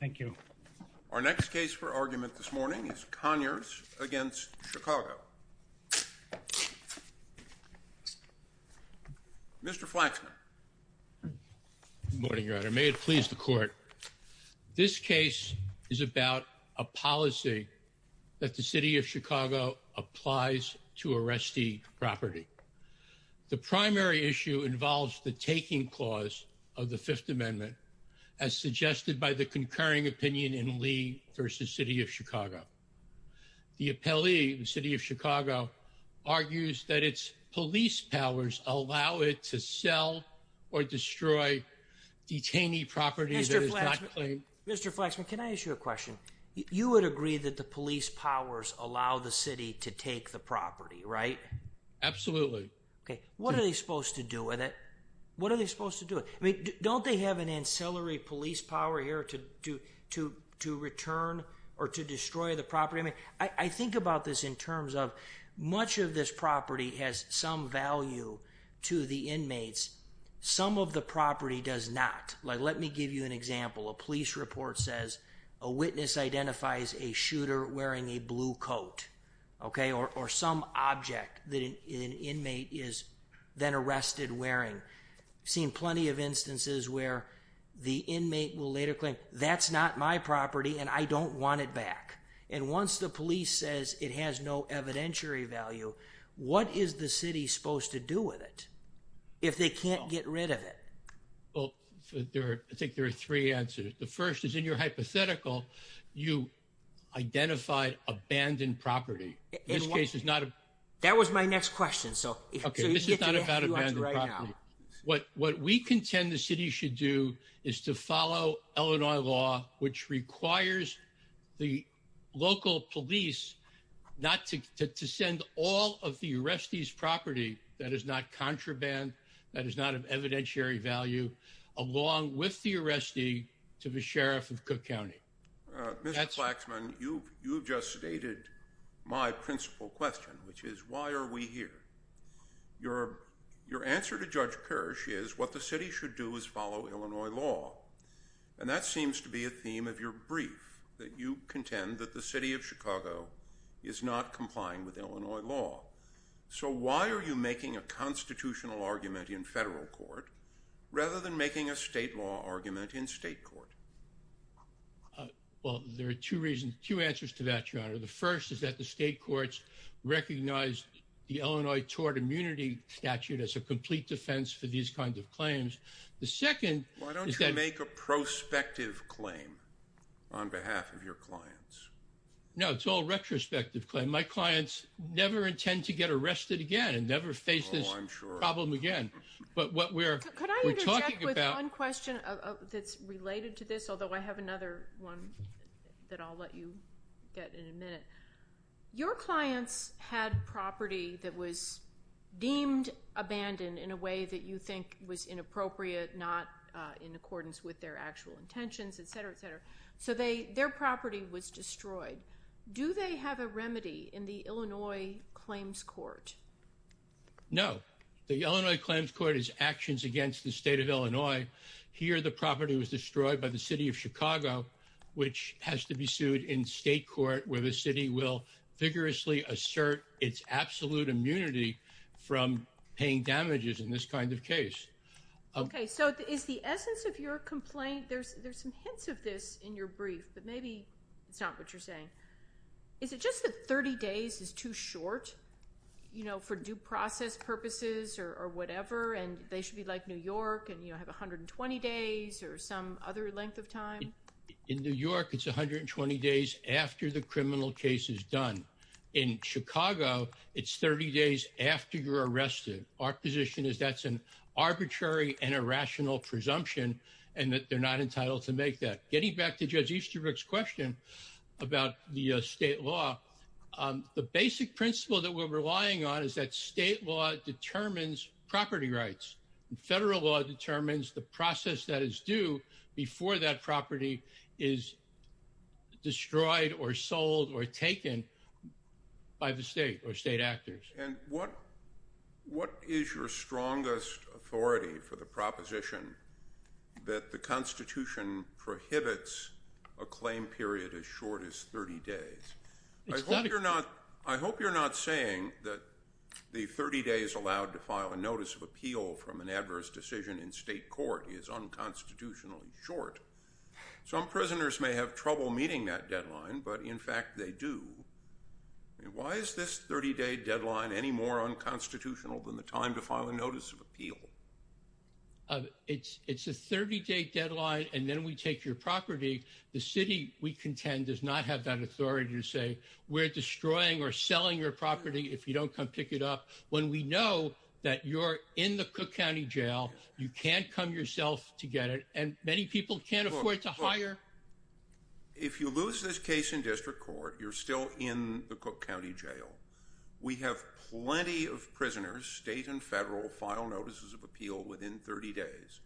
Thank you. Our next case for argument this morning is Conyers v. Chicago. Mr. Flaxman. Good morning, Your Honor. May it please the Court. This case is about a policy that the City of Chicago applies to arrestee property. The primary issue involves the taking clause of the Fifth Amendment as suggested by the concurring opinion in Lee v. City of Chicago. The appellee, the City of Chicago, argues that its police powers allow it to sell or destroy detainee property that is not claimed. Mr. Flaxman, can I ask you a question? You would agree that the police powers allow the City to take the property, right? Absolutely. What are they supposed to do with it? Don't they have an ancillary police power here to return or to destroy the property? I think about this in terms of much of this property has some value to the inmates. Some of the property does not. Let me give you an example. A police report says a witness identifies a shooter wearing a blue coat or some object that an inmate is then arrested wearing. I've seen plenty of instances where the inmate will later claim, that's not my property and I don't want it back. And once the police says it has no evidentiary value, what is the City supposed to do with it if they can't get rid of it? I think there are three answers. The first is in your hypothetical, you identified abandoned property. That was my next question. This is not about abandoned property. What we contend the City should do is to follow Illinois law, which requires the local police not to send all of the arrestee's property that is not contraband, that is not of evidentiary value, along with the arrestee to the Sheriff of Cook County. Mr. Flaxman, you just stated my principal question, which is why are we here? Your answer to Judge Kirsch is what the City should do is follow Illinois law. And that seems to be a theme of your brief, that you contend that the City of Chicago is not complying with Illinois law. So why are you making a constitutional argument in federal court rather than making a state law argument in state court? Well, there are two reasons, two answers to that, Your Honor. The first is that the state courts recognize the Illinois tort immunity statute as a complete defense for these kinds of claims. Why don't you make a prospective claim on behalf of your clients? No, it's all retrospective claim. My clients never intend to get arrested again and never face this problem again. Could I interject with one question that's related to this, although I have another one that I'll let you get in a minute? Your clients had property that was deemed abandoned in a way that you think was inappropriate, not in accordance with their actual intentions, etc., etc. So their property was destroyed. Do they have a remedy in the Illinois claims court? No. The Illinois claims court is actions against the state of Illinois. Here, the property was destroyed by the City of Chicago, which has to be sued in state court where the city will vigorously assert its absolute immunity from paying damages in this kind of case. OK, so is the essence of your complaint, there's some hints of this in your brief, but maybe it's not what you're saying. Is it just that 30 days is too short for due process purposes or whatever, and they should be like New York and have 120 days or some other length of time? In New York, it's 120 days after the criminal case is done. In Chicago, it's 30 days after you're arrested. Our position is that's an arbitrary and irrational presumption and that they're not entitled to make that. Getting back to Judge Easterbrook's question about the state law, the basic principle that we're relying on is that state law determines property rights. Federal law determines the process that is due before that property is destroyed or sold or taken by the state or state actors. And what is your strongest authority for the proposition that the Constitution prohibits a claim period as short as 30 days? I hope you're not saying that the 30 days allowed to file a notice of appeal from an adverse decision in state court is unconstitutionally short. Some prisoners may have trouble meeting that deadline, but in fact they do. Why is this 30-day deadline any more unconstitutional than the time to file a notice of appeal? It's a 30-day deadline, and then we take your property. The city, we contend, does not have that authority to say we're destroying or selling your property if you don't come pick it up. When we know that you're in the Cook County Jail, you can't come yourself to get it, and many people can't afford to hire. If you lose this case in district court, you're still in the Cook County Jail. We have plenty of prisoners, state and federal, file notices of appeal within 30 days.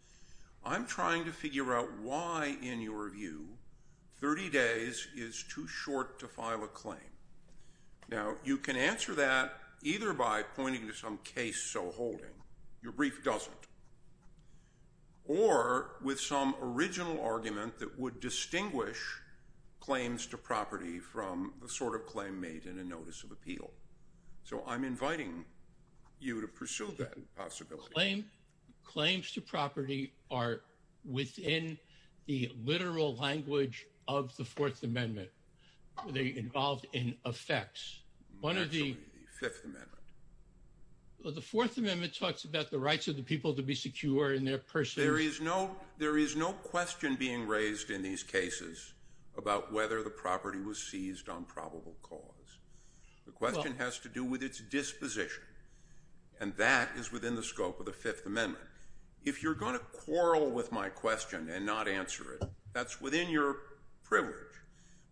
I'm trying to figure out why, in your view, 30 days is too short to file a claim. Now, you can answer that either by pointing to some case so holding. Your brief doesn't, or with some original argument that would distinguish claims to property from the sort of claim made in a notice of appeal. So I'm inviting you to pursue that possibility. Claims to property are within the literal language of the Fourth Amendment. They're involved in effects. Absolutely, the Fifth Amendment. The Fourth Amendment talks about the rights of the people to be secure in their persons. There is no question being raised in these cases about whether the property was seized on probable cause. The question has to do with its disposition, and that is within the scope of the Fifth Amendment. If you're going to quarrel with my question and not answer it, that's within your privilege.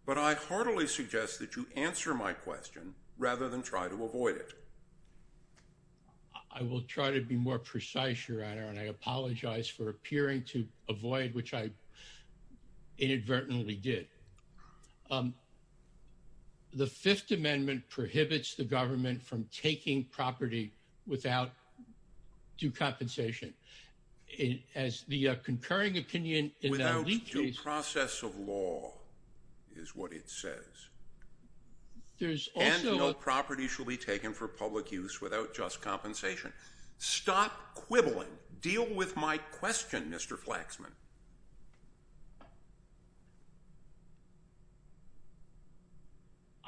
But I heartily suggest that you answer my question rather than try to avoid it. I will try to be more precise, Your Honor, and I apologize for appearing to avoid, which I inadvertently did. The Fifth Amendment prohibits the government from taking property without due compensation. Without due process of law is what it says. And no property shall be taken for public use without just compensation. Stop quibbling. Deal with my question, Mr. Flaxman.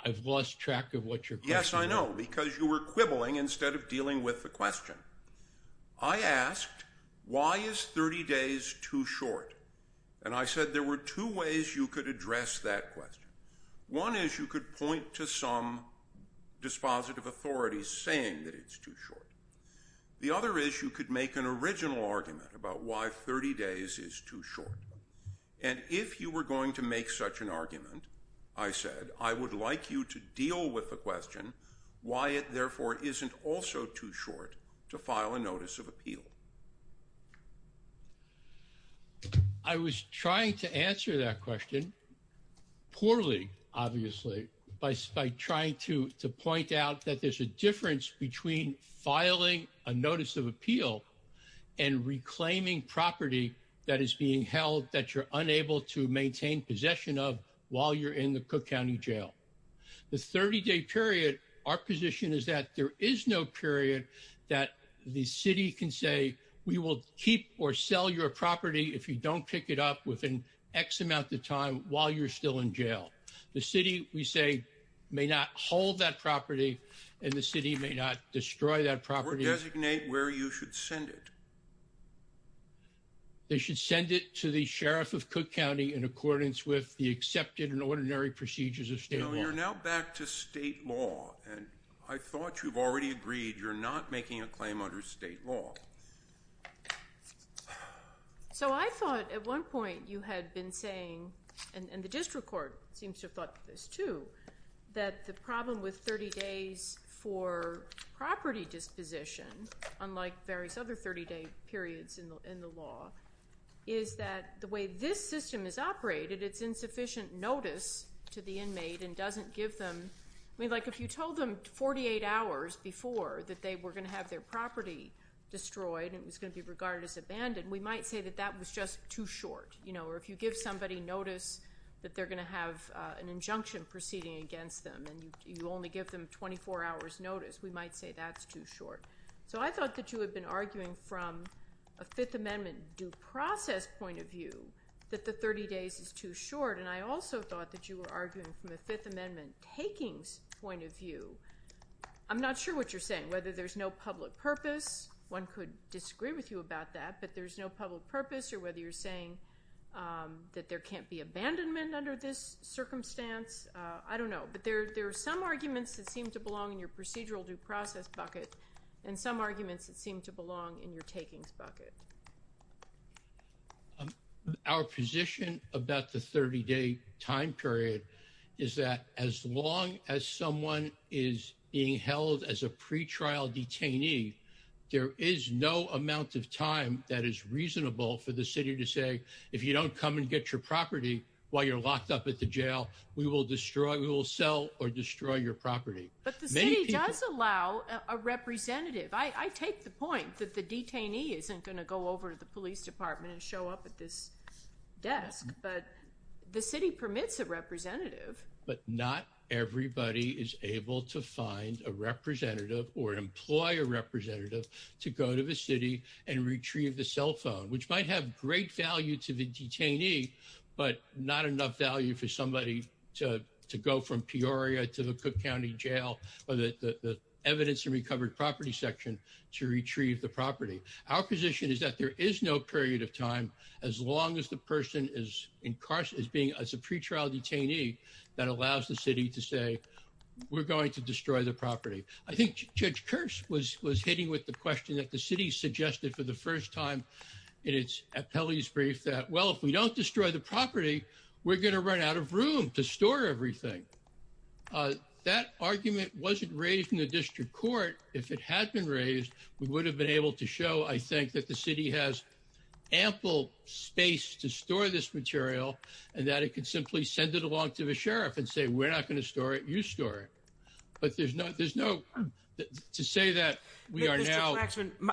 I've lost track of what your question is. Yes, I know, because you were quibbling instead of dealing with the question. I asked, why is 30 days too short? And I said there were two ways you could address that question. One is you could point to some dispositive authorities saying that it's too short. The other is you could make an original argument about why 30 days is too short. And if you were going to make such an argument, I said, I would like you to deal with the question why it therefore isn't also too short to file a notice of appeal. I was trying to answer that question poorly, obviously, by trying to point out that there's a difference between filing a notice of appeal and reclaiming property that is being held that you're unable to maintain possession of while you're in the Cook County Jail. The 30-day period, our position is that there is no period that the city can say we will keep or sell your property if you don't pick it up within X amount of time while you're still in jail. The city, we say, may not hold that property, and the city may not destroy that property. Or designate where you should send it. They should send it to the Sheriff of Cook County in accordance with the accepted and ordinary procedures of state law. You're now back to state law, and I thought you've already agreed you're not making a claim under state law. So I thought at one point you had been saying, and the district court seems to have thought this too, that the problem with 30 days for property disposition, unlike various other 30-day periods in the law, is that the way this system is operated, it's insufficient notice to the inmate and doesn't give them... I mean, like, if you told them 48 hours before that they were going to have their property destroyed and it was going to be regarded as abandoned, we might say that that was just too short. Or if you give somebody notice that they're going to have an injunction proceeding against them and you only give them 24 hours notice, we might say that's too short. So I thought that you had been arguing from a Fifth Amendment due process point of view that the 30 days is too short, and I also thought that you were arguing from a Fifth Amendment takings point of view. I'm not sure what you're saying, whether there's no public purpose. I guess one could disagree with you about that, but there's no public purpose, or whether you're saying that there can't be abandonment under this circumstance. I don't know. But there are some arguments that seem to belong in your procedural due process bucket and some arguments that seem to belong in your takings bucket. Our position about the 30-day time period is that as long as someone is being held as a pretrial detainee, there is no amount of time that is reasonable for the city to say, if you don't come and get your property while you're locked up at the jail, we will destroy, we will sell or destroy your property. But the city does allow a representative. I take the point that the detainee isn't going to go over to the police department and show up at this desk, but the city permits a representative. But not everybody is able to find a representative or employ a representative to go to the city and retrieve the cell phone, which might have great value to the detainee, but not enough value for somebody to go from Peoria to the Cook County Jail, or the evidence and recovered property section to retrieve the property. Our position is that there is no period of time as long as the person is incarcerated as being a pretrial detainee, that allows the city to say, we're going to destroy the property. I think Judge Kurtz was hitting with the question that the city suggested for the first time in its appellee's brief that, well, if we don't destroy the property, we're going to run out of room to store everything. That argument wasn't raised in the district court. If it had been raised, we would have been able to show, I think, that the city has ample space to store this material, and that it could simply send it along to the sheriff and say, we're not going to store it. You store it. But there's no there's no to say that we are now.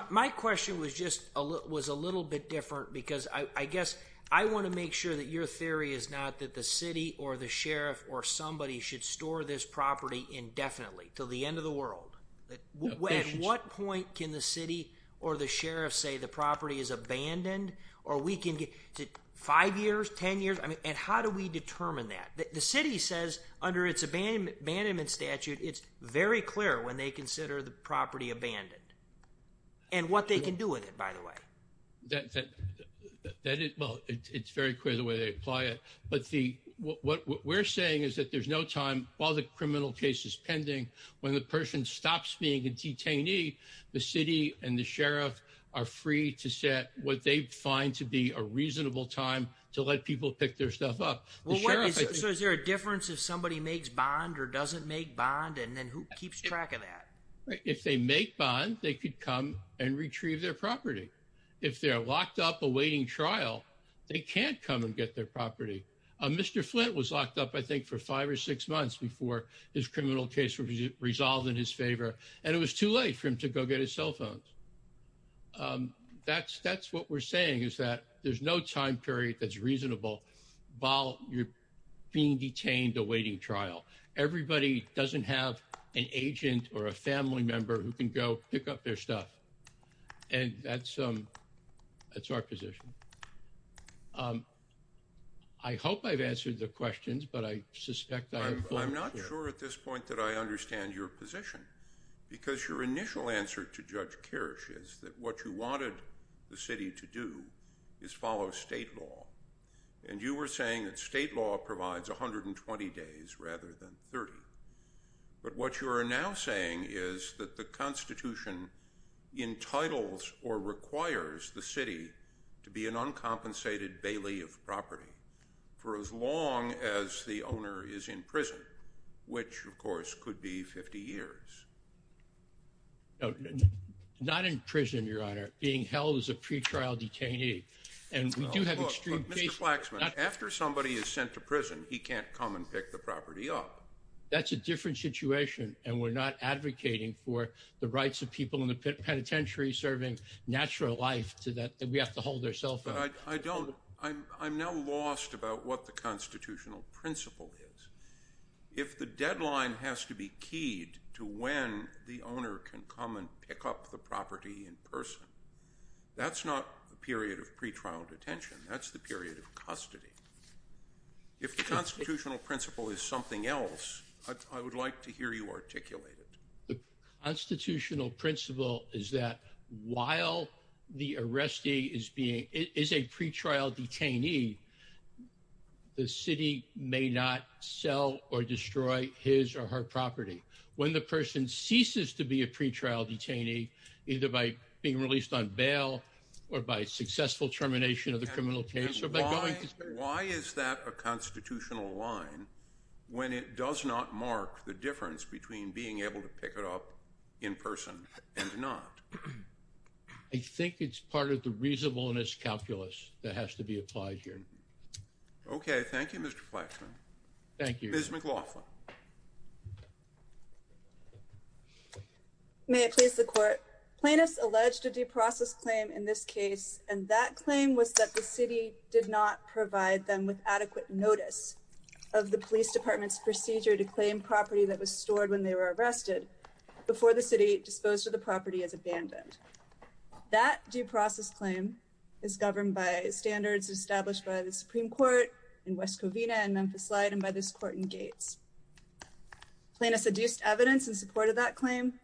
My question was just a little bit different because I guess I want to make sure that your theory is not that the city or the sheriff or somebody should store this property indefinitely till the end of the world. At what point can the city or the sheriff say the property is abandoned, or we can get to five years, 10 years? I mean, and how do we determine that? The city says under its abandonment statute, it's very clear when they consider the property abandoned. And what they can do with it, by the way. Well, it's very clear the way they apply it. But what we're saying is that there's no time, while the criminal case is pending, when the person stops being a detainee, the city and the sheriff are free to set what they find to be a reasonable time to let people pick their stuff up. Is there a difference if somebody makes bond or doesn't make bond? And then who keeps track of that? If they make bond, they could come and retrieve their property. If they're locked up awaiting trial, they can't come and get their property. Mr. Flint was locked up, I think, for five or six months before his criminal case was resolved in his favor. And it was too late for him to go get his cell phone. That's what we're saying is that there's no time period that's reasonable while you're being detained awaiting trial. Everybody doesn't have an agent or a family member who can go pick up their stuff. And that's our position. I hope I've answered the questions, but I suspect I'm not sure at this point that I understand your position. Because your initial answer to Judge Kirsch is that what you wanted the city to do is follow state law. And you were saying that state law provides 120 days rather than 30. But what you are now saying is that the Constitution entitles or requires the city to be an uncompensated bailiff property for as long as the owner is in prison, which, of course, could be 50 years. Not in prison, Your Honor. Being held as a pretrial detainee. Mr. Flaxman, after somebody is sent to prison, he can't come and pick the property up. That's a different situation, and we're not advocating for the rights of people in the penitentiary serving natural life that we have to hold their cell phone. I'm now lost about what the constitutional principle is. If the deadline has to be keyed to when the owner can come and pick up the property in person, that's not a period of pretrial detention. That's the period of custody. If the constitutional principle is something else, I would like to hear you articulate it. The constitutional principle is that while the arrestee is being is a pretrial detainee, the city may not sell or destroy his or her property when the person ceases to be a pretrial detainee, either by being released on bail or by successful termination of the criminal case. Why is that a constitutional line when it does not mark the difference between being able to pick it up in person and not? I think it's part of the reasonableness calculus that has to be applied here. Okay. Thank you, Mr. Flaxman. Thank you. Ms. McLaughlin. May it please the court. Plaintiffs alleged a due process claim in this case, and that claim was that the city did not provide them with adequate notice of the police department's procedure to claim property that was stored when they were arrested before the city disposed of the property as abandoned. That due process claim is governed by standards established by the Supreme Court in West Covina and Memphis Light and by this court in Gates. Plaintiffs adduced evidence in support of that claim,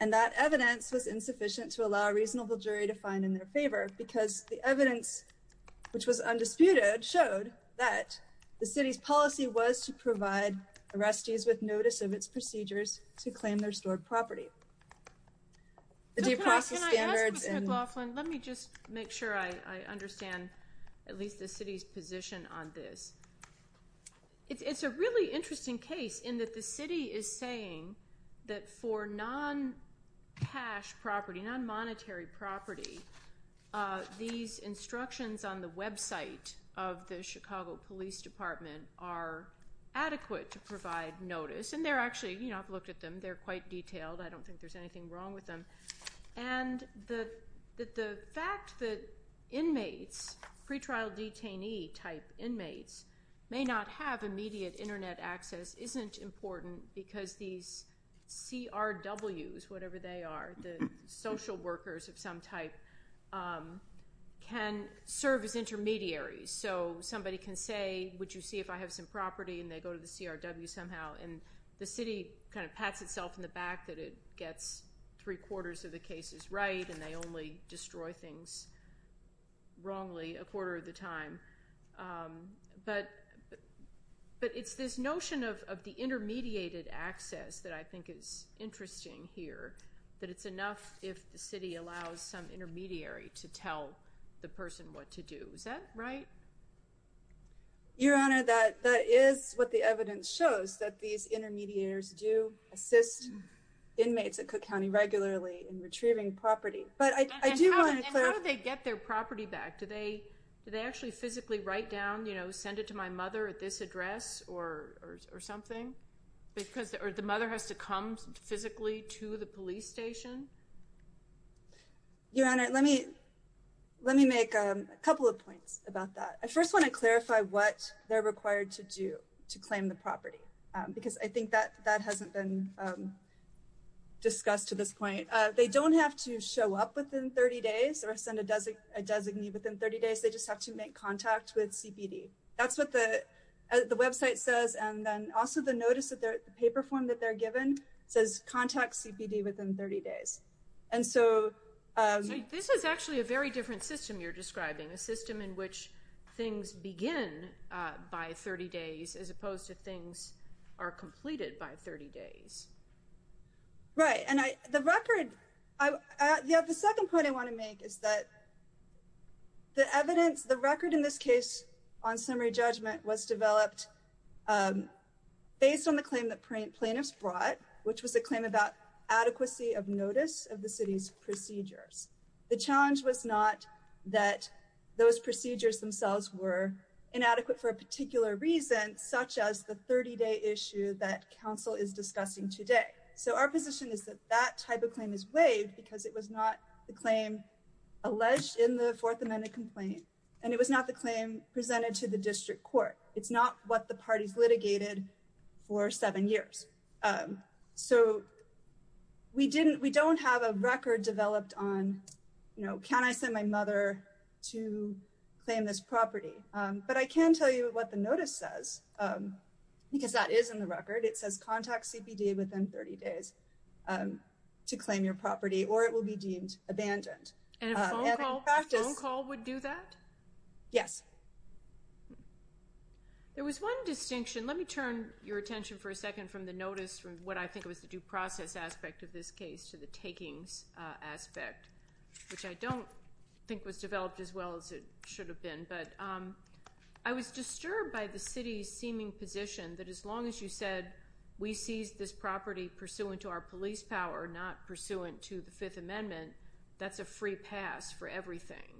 and that evidence was insufficient to allow a reasonable jury to find in their favor because the evidence, which was undisputed, showed that the city's policy was to provide arrestees with notice of its procedures to claim their stored property. Can I ask, Mr. McLaughlin, let me just make sure I understand at least the city's position on this. It's a really interesting case in that the city is saying that for non-cash property, non-monetary property, these instructions on the website of the Chicago Police Department are adequate to provide notice. And they're actually, you know, I've looked at them. They're quite detailed. I don't think there's anything wrong with them. And the fact that inmates, pretrial detainee type inmates, may not have immediate Internet access isn't important because these CRWs, whatever they are, the social workers of some type, can serve as intermediaries. So somebody can say, would you see if I have some property? And they go to the CRW somehow. And the city kind of pats itself on the back that it gets three-quarters of the cases right, and they only destroy things wrongly a quarter of the time. But it's this notion of the intermediated access that I think is interesting here, that it's enough if the city allows some intermediary to tell the person what to do. Is that right? Your Honor, that is what the evidence shows, that these intermediaries do assist inmates at Cook County regularly in retrieving property. But I do want to clarify. And how do they get their property back? Do they actually physically write down, you know, send it to my mother at this address or something? Or the mother has to come physically to the police station? Your Honor, let me make a couple of points about that. I first want to clarify what they're required to do to claim the property, because I think that hasn't been discussed to this point. They don't have to show up within 30 days or send a designee within 30 days. They just have to make contact with CPD. That's what the website says. And then also the notice, the paper form that they're given, says contact CPD within 30 days. And so— So this is actually a very different system you're describing, a system in which things begin by 30 days as opposed to things are completed by 30 days. Right. And the record—the second point I want to make is that the evidence, the record in this case on summary judgment was developed based on the claim that plaintiffs brought, which was a claim about adequacy of notice of the city's procedures. The challenge was not that those procedures themselves were inadequate for a particular reason, such as the 30-day issue that counsel is discussing today. So our position is that that type of claim is waived because it was not the claim alleged in the Fourth Amendment complaint, and it was not the claim presented to the district court. It's not what the parties litigated for seven years. So we don't have a record developed on, you know, can I send my mother to claim this property? But I can tell you what the notice says, because that is in the record. It says contact CPD within 30 days to claim your property, or it will be deemed abandoned. And a phone call would do that? Yes. There was one distinction. Let me turn your attention for a second from the notice, from what I think was the due process aspect of this case to the takings aspect, which I don't think was developed as well as it should have been. But I was disturbed by the city's seeming position that as long as you said we seized this property pursuant to our police power, not pursuant to the Fifth Amendment, that's a free pass for everything,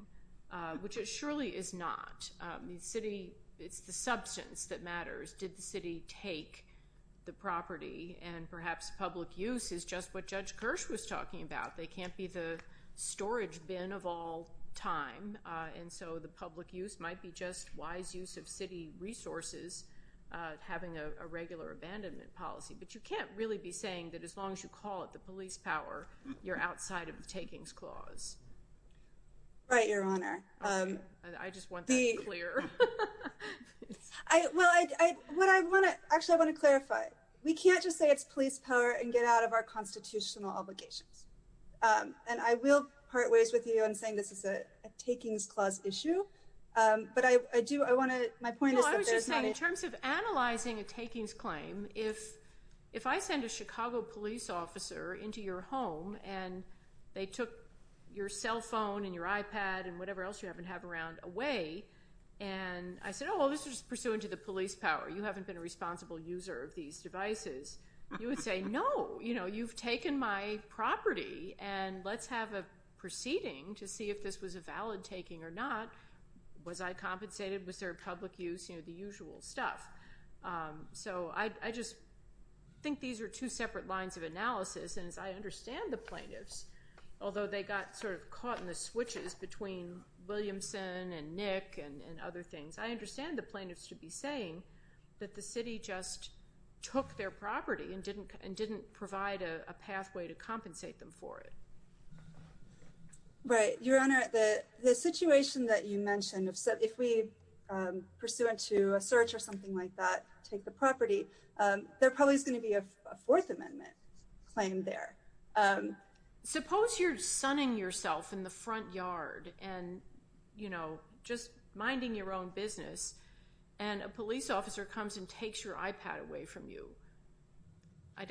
which it surely is not. The city, it's the substance that matters. Did the city take the property? And perhaps public use is just what Judge Kirsch was talking about. They can't be the storage bin of all time. And so the public use might be just wise use of city resources, having a regular abandonment policy. But you can't really be saying that as long as you call it the police power, you're outside of the takings clause. Right, Your Honor. I just want that clear. Well, actually, I want to clarify. We can't just say it's police power and get out of our constitutional obligations. And I will part ways with you in saying this is a takings clause issue. But I do, I want to, my point is that there's not a- No, I was just saying in terms of analyzing a takings claim, if I send a Chicago police officer into your home and they took your cell phone and your iPad and whatever else you happen to have around away, and I said, oh, this is pursuant to the police power, you haven't been a responsible user of these devices, you would say, no, you've taken my property and let's have a proceeding to see if this was a valid taking or not. Was I compensated? Was there public use? You know, the usual stuff. So I just think these are two separate lines of analysis. And as I understand the plaintiffs, although they got sort of caught in the switches between Williamson and Nick and other things, I understand the plaintiffs should be saying that the city just took their property and didn't provide a pathway to compensate them for it. Right. Your Honor, the situation that you mentioned, if we, pursuant to a search or something like that, take the property, there probably is going to be a Fourth Amendment claim there. Suppose you're sunning yourself in the front yard and, you know, just minding your own business, and a police officer comes and takes your iPad away from you.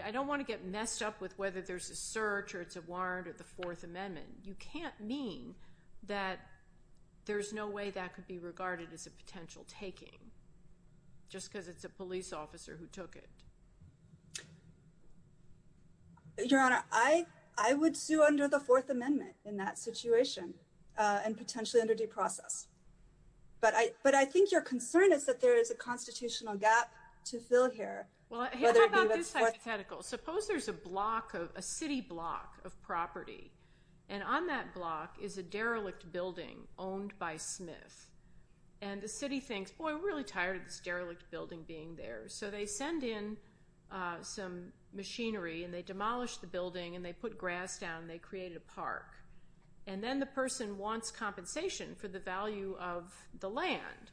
I don't want to get messed up with whether there's a search or it's a warrant or the Fourth Amendment. You can't mean that there's no way that could be regarded as a potential taking just because it's a police officer who took it. Your Honor, I would sue under the Fourth Amendment in that situation and potentially under due process. But I think your concern is that there is a constitutional gap to fill here. Well, how about this hypothetical? Suppose there's a city block of property, and on that block is a derelict building owned by Smith. And the city thinks, boy, we're really tired of this derelict building being there. So they send in some machinery, and they demolish the building, and they put grass down, and they create a park. And then the person wants compensation for the value of the land.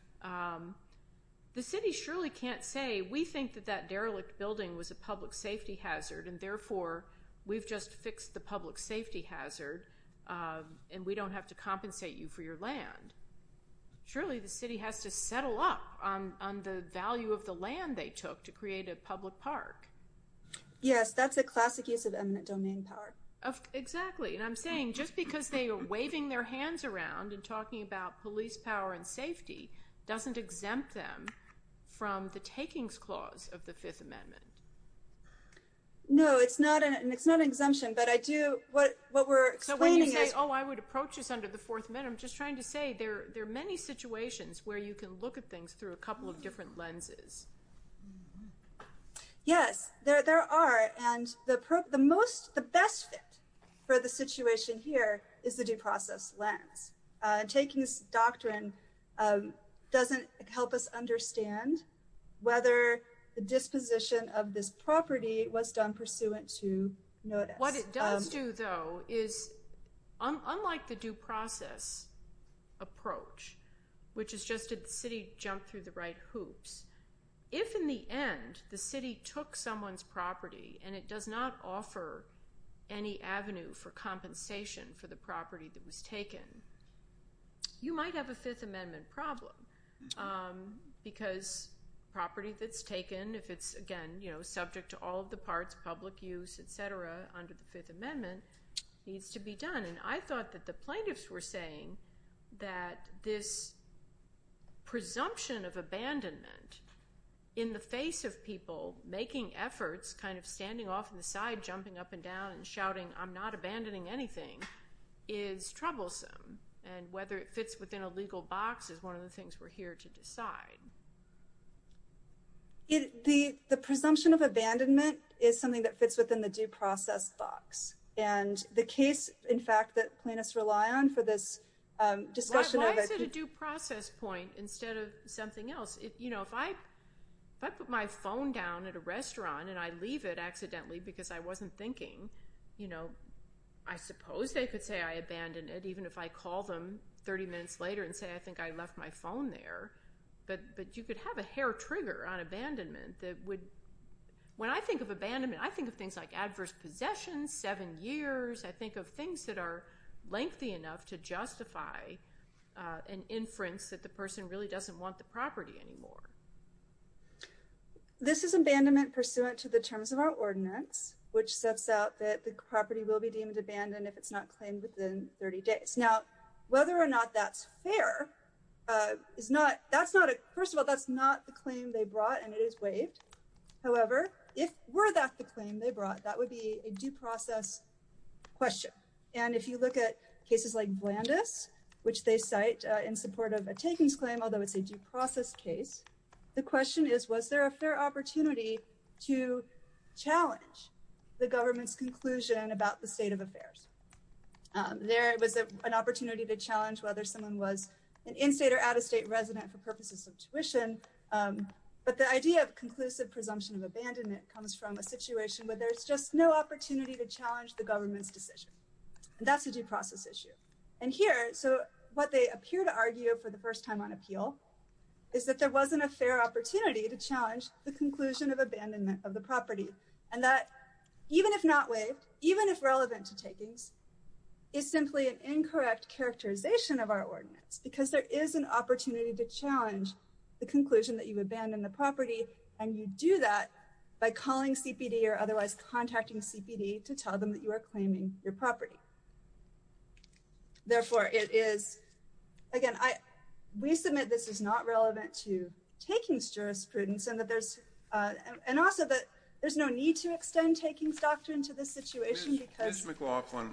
The city surely can't say, we think that that derelict building was a public safety hazard, and therefore we've just fixed the public safety hazard, and we don't have to compensate you for your land. Surely the city has to settle up on the value of the land they took to create a public park. Yes, that's a classic use of eminent domain power. Exactly. And I'm saying just because they are waving their hands around and talking about police power and safety doesn't exempt them from the takings clause of the Fifth Amendment. No, it's not an exemption. But what we're explaining is— There are many situations where you can look at things through a couple of different lenses. Yes, there are. And the best fit for the situation here is the due process lens. Taking this doctrine doesn't help us understand whether the disposition of this property was done pursuant to notice. What it does do, though, is unlike the due process approach, which is just did the city jump through the right hoops, if in the end the city took someone's property and it does not offer any avenue for compensation for the property that was taken, you might have a Fifth Amendment problem because property that's taken, if it's, again, subject to all of the parts, public use, et cetera, under the Fifth Amendment, needs to be done. And I thought that the plaintiffs were saying that this presumption of abandonment in the face of people making efforts, kind of standing off to the side, jumping up and down and shouting, I'm not abandoning anything, is troublesome. And whether it fits within a legal box is one of the things we're here to decide. The presumption of abandonment is something that fits within the due process box. And the case, in fact, that plaintiffs rely on for this discussion of a- Why is it a due process point instead of something else? If I put my phone down at a restaurant and I leave it accidentally because I wasn't thinking, I suppose they could say I abandoned it, even if I call them 30 minutes later and say I think I left my phone there. But you could have a hair trigger on abandonment that would- When I think of abandonment, I think of things like adverse possessions, seven years. I think of things that are lengthy enough to justify an inference that the person really doesn't want the property anymore. This is abandonment pursuant to the terms of our ordinance, which sets out that the property will be deemed abandoned if it's not claimed within 30 days. Now, whether or not that's fair is not- First of all, that's not the claim they brought, and it is waived. However, if were that the claim they brought, that would be a due process question. And if you look at cases like Blandus, which they cite in support of a takings claim, although it's a due process case, the question is, was there a fair opportunity to challenge the government's conclusion about the state of affairs? There was an opportunity to challenge whether someone was an in-state or out-of-state resident for purposes of tuition. But the idea of conclusive presumption of abandonment comes from a situation where there's just no opportunity to challenge the government's decision. And that's a due process issue. And here, so what they appear to argue for the first time on appeal, is that there wasn't a fair opportunity to challenge the conclusion of abandonment of the property. And that, even if not waived, even if relevant to takings, is simply an incorrect characterization of our ordinance. Because there is an opportunity to challenge the conclusion that you abandon the property, and you do that by calling CPD or otherwise contacting CPD to tell them that you are claiming your property. Therefore, it is, again, we submit this is not relevant to takings jurisprudence, and also that there's no need to extend takings doctrine to this situation. Ms. McLaughlin,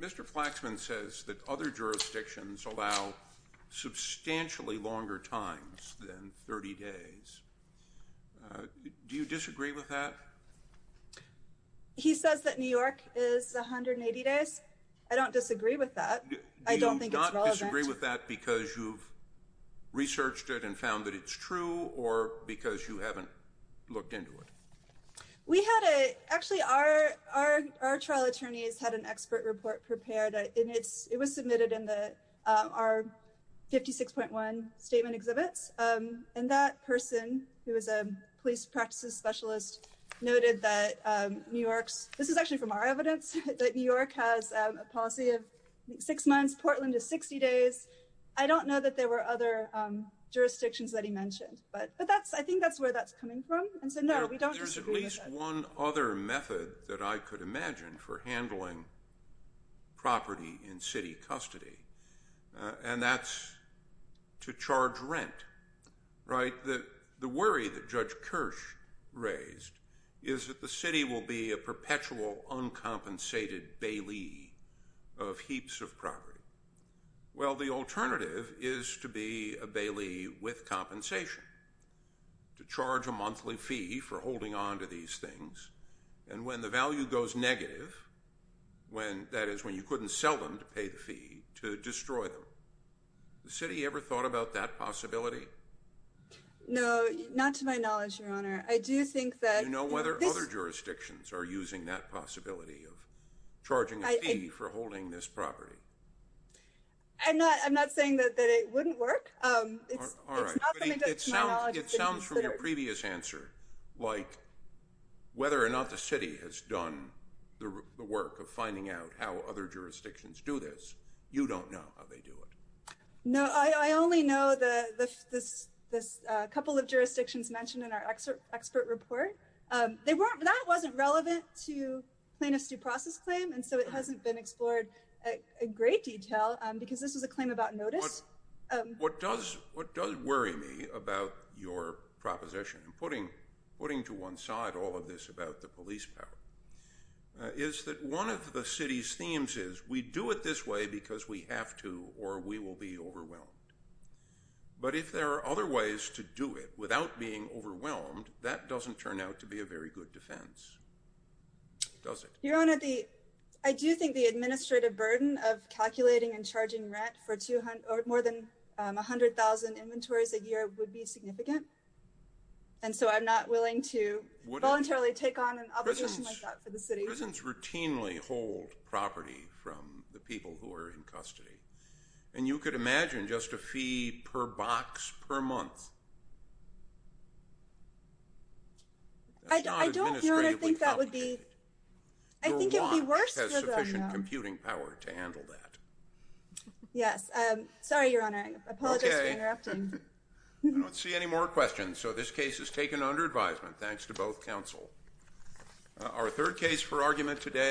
Mr. Flaxman says that other jurisdictions allow substantially longer times than 30 days. Do you disagree with that? He says that New York is 180 days. I don't disagree with that. I don't think it's relevant. Do you disagree with that because you've researched it and found that it's true, or because you haven't looked into it? We had a, actually our trial attorneys had an expert report prepared. And it was submitted in our 56.1 statement exhibits. And that person, who is a police practices specialist, noted that New York's, this is actually from our evidence, that New York has a policy of six months. Portland is 60 days. I don't know that there were other jurisdictions that he mentioned. But I think that's where that's coming from. And so, no, we don't disagree with that. There's at least one other method that I could imagine for handling property in city custody, and that's to charge rent, right? The worry that Judge Kirsch raised is that the city will be a perpetual, uncompensated bailey of heaps of property. Well, the alternative is to be a bailey with compensation, to charge a monthly fee for holding on to these things. And when the value goes negative, that is when you couldn't sell them to pay the fee, to destroy them. The city ever thought about that possibility? No, not to my knowledge, Your Honor. I do think that... Do you know whether other jurisdictions are using that possibility of charging a fee for holding this property? I'm not saying that it wouldn't work. It's not something that to my knowledge... It sounds from your previous answer like whether or not the city has done the work of finding out how other jurisdictions do this. You don't know how they do it. No, I only know the couple of jurisdictions mentioned in our expert report. That wasn't relevant to plaintiff's due process claim, and so it hasn't been explored in great detail, because this was a claim about notice. What does worry me about your proposition, and putting to one side all of this about the police power, is that one of the city's themes is we do it this way because we have to, or we will be overwhelmed. But if there are other ways to do it without being overwhelmed, that doesn't turn out to be a very good defense, does it? Your Honor, I do think the administrative burden of calculating and charging rent for more than 100,000 inventories a year would be significant. And so I'm not willing to voluntarily take on an obligation like that for the city. Prisons routinely hold property from the people who are in custody. And you could imagine just a fee per box per month. I don't, Your Honor, think that would be... Your watch has sufficient computing power to handle that. Sorry, Your Honor. I apologize for interrupting. I don't see any more questions, so this case is taken under advisement, thanks to both counsel. Our third case for argument today...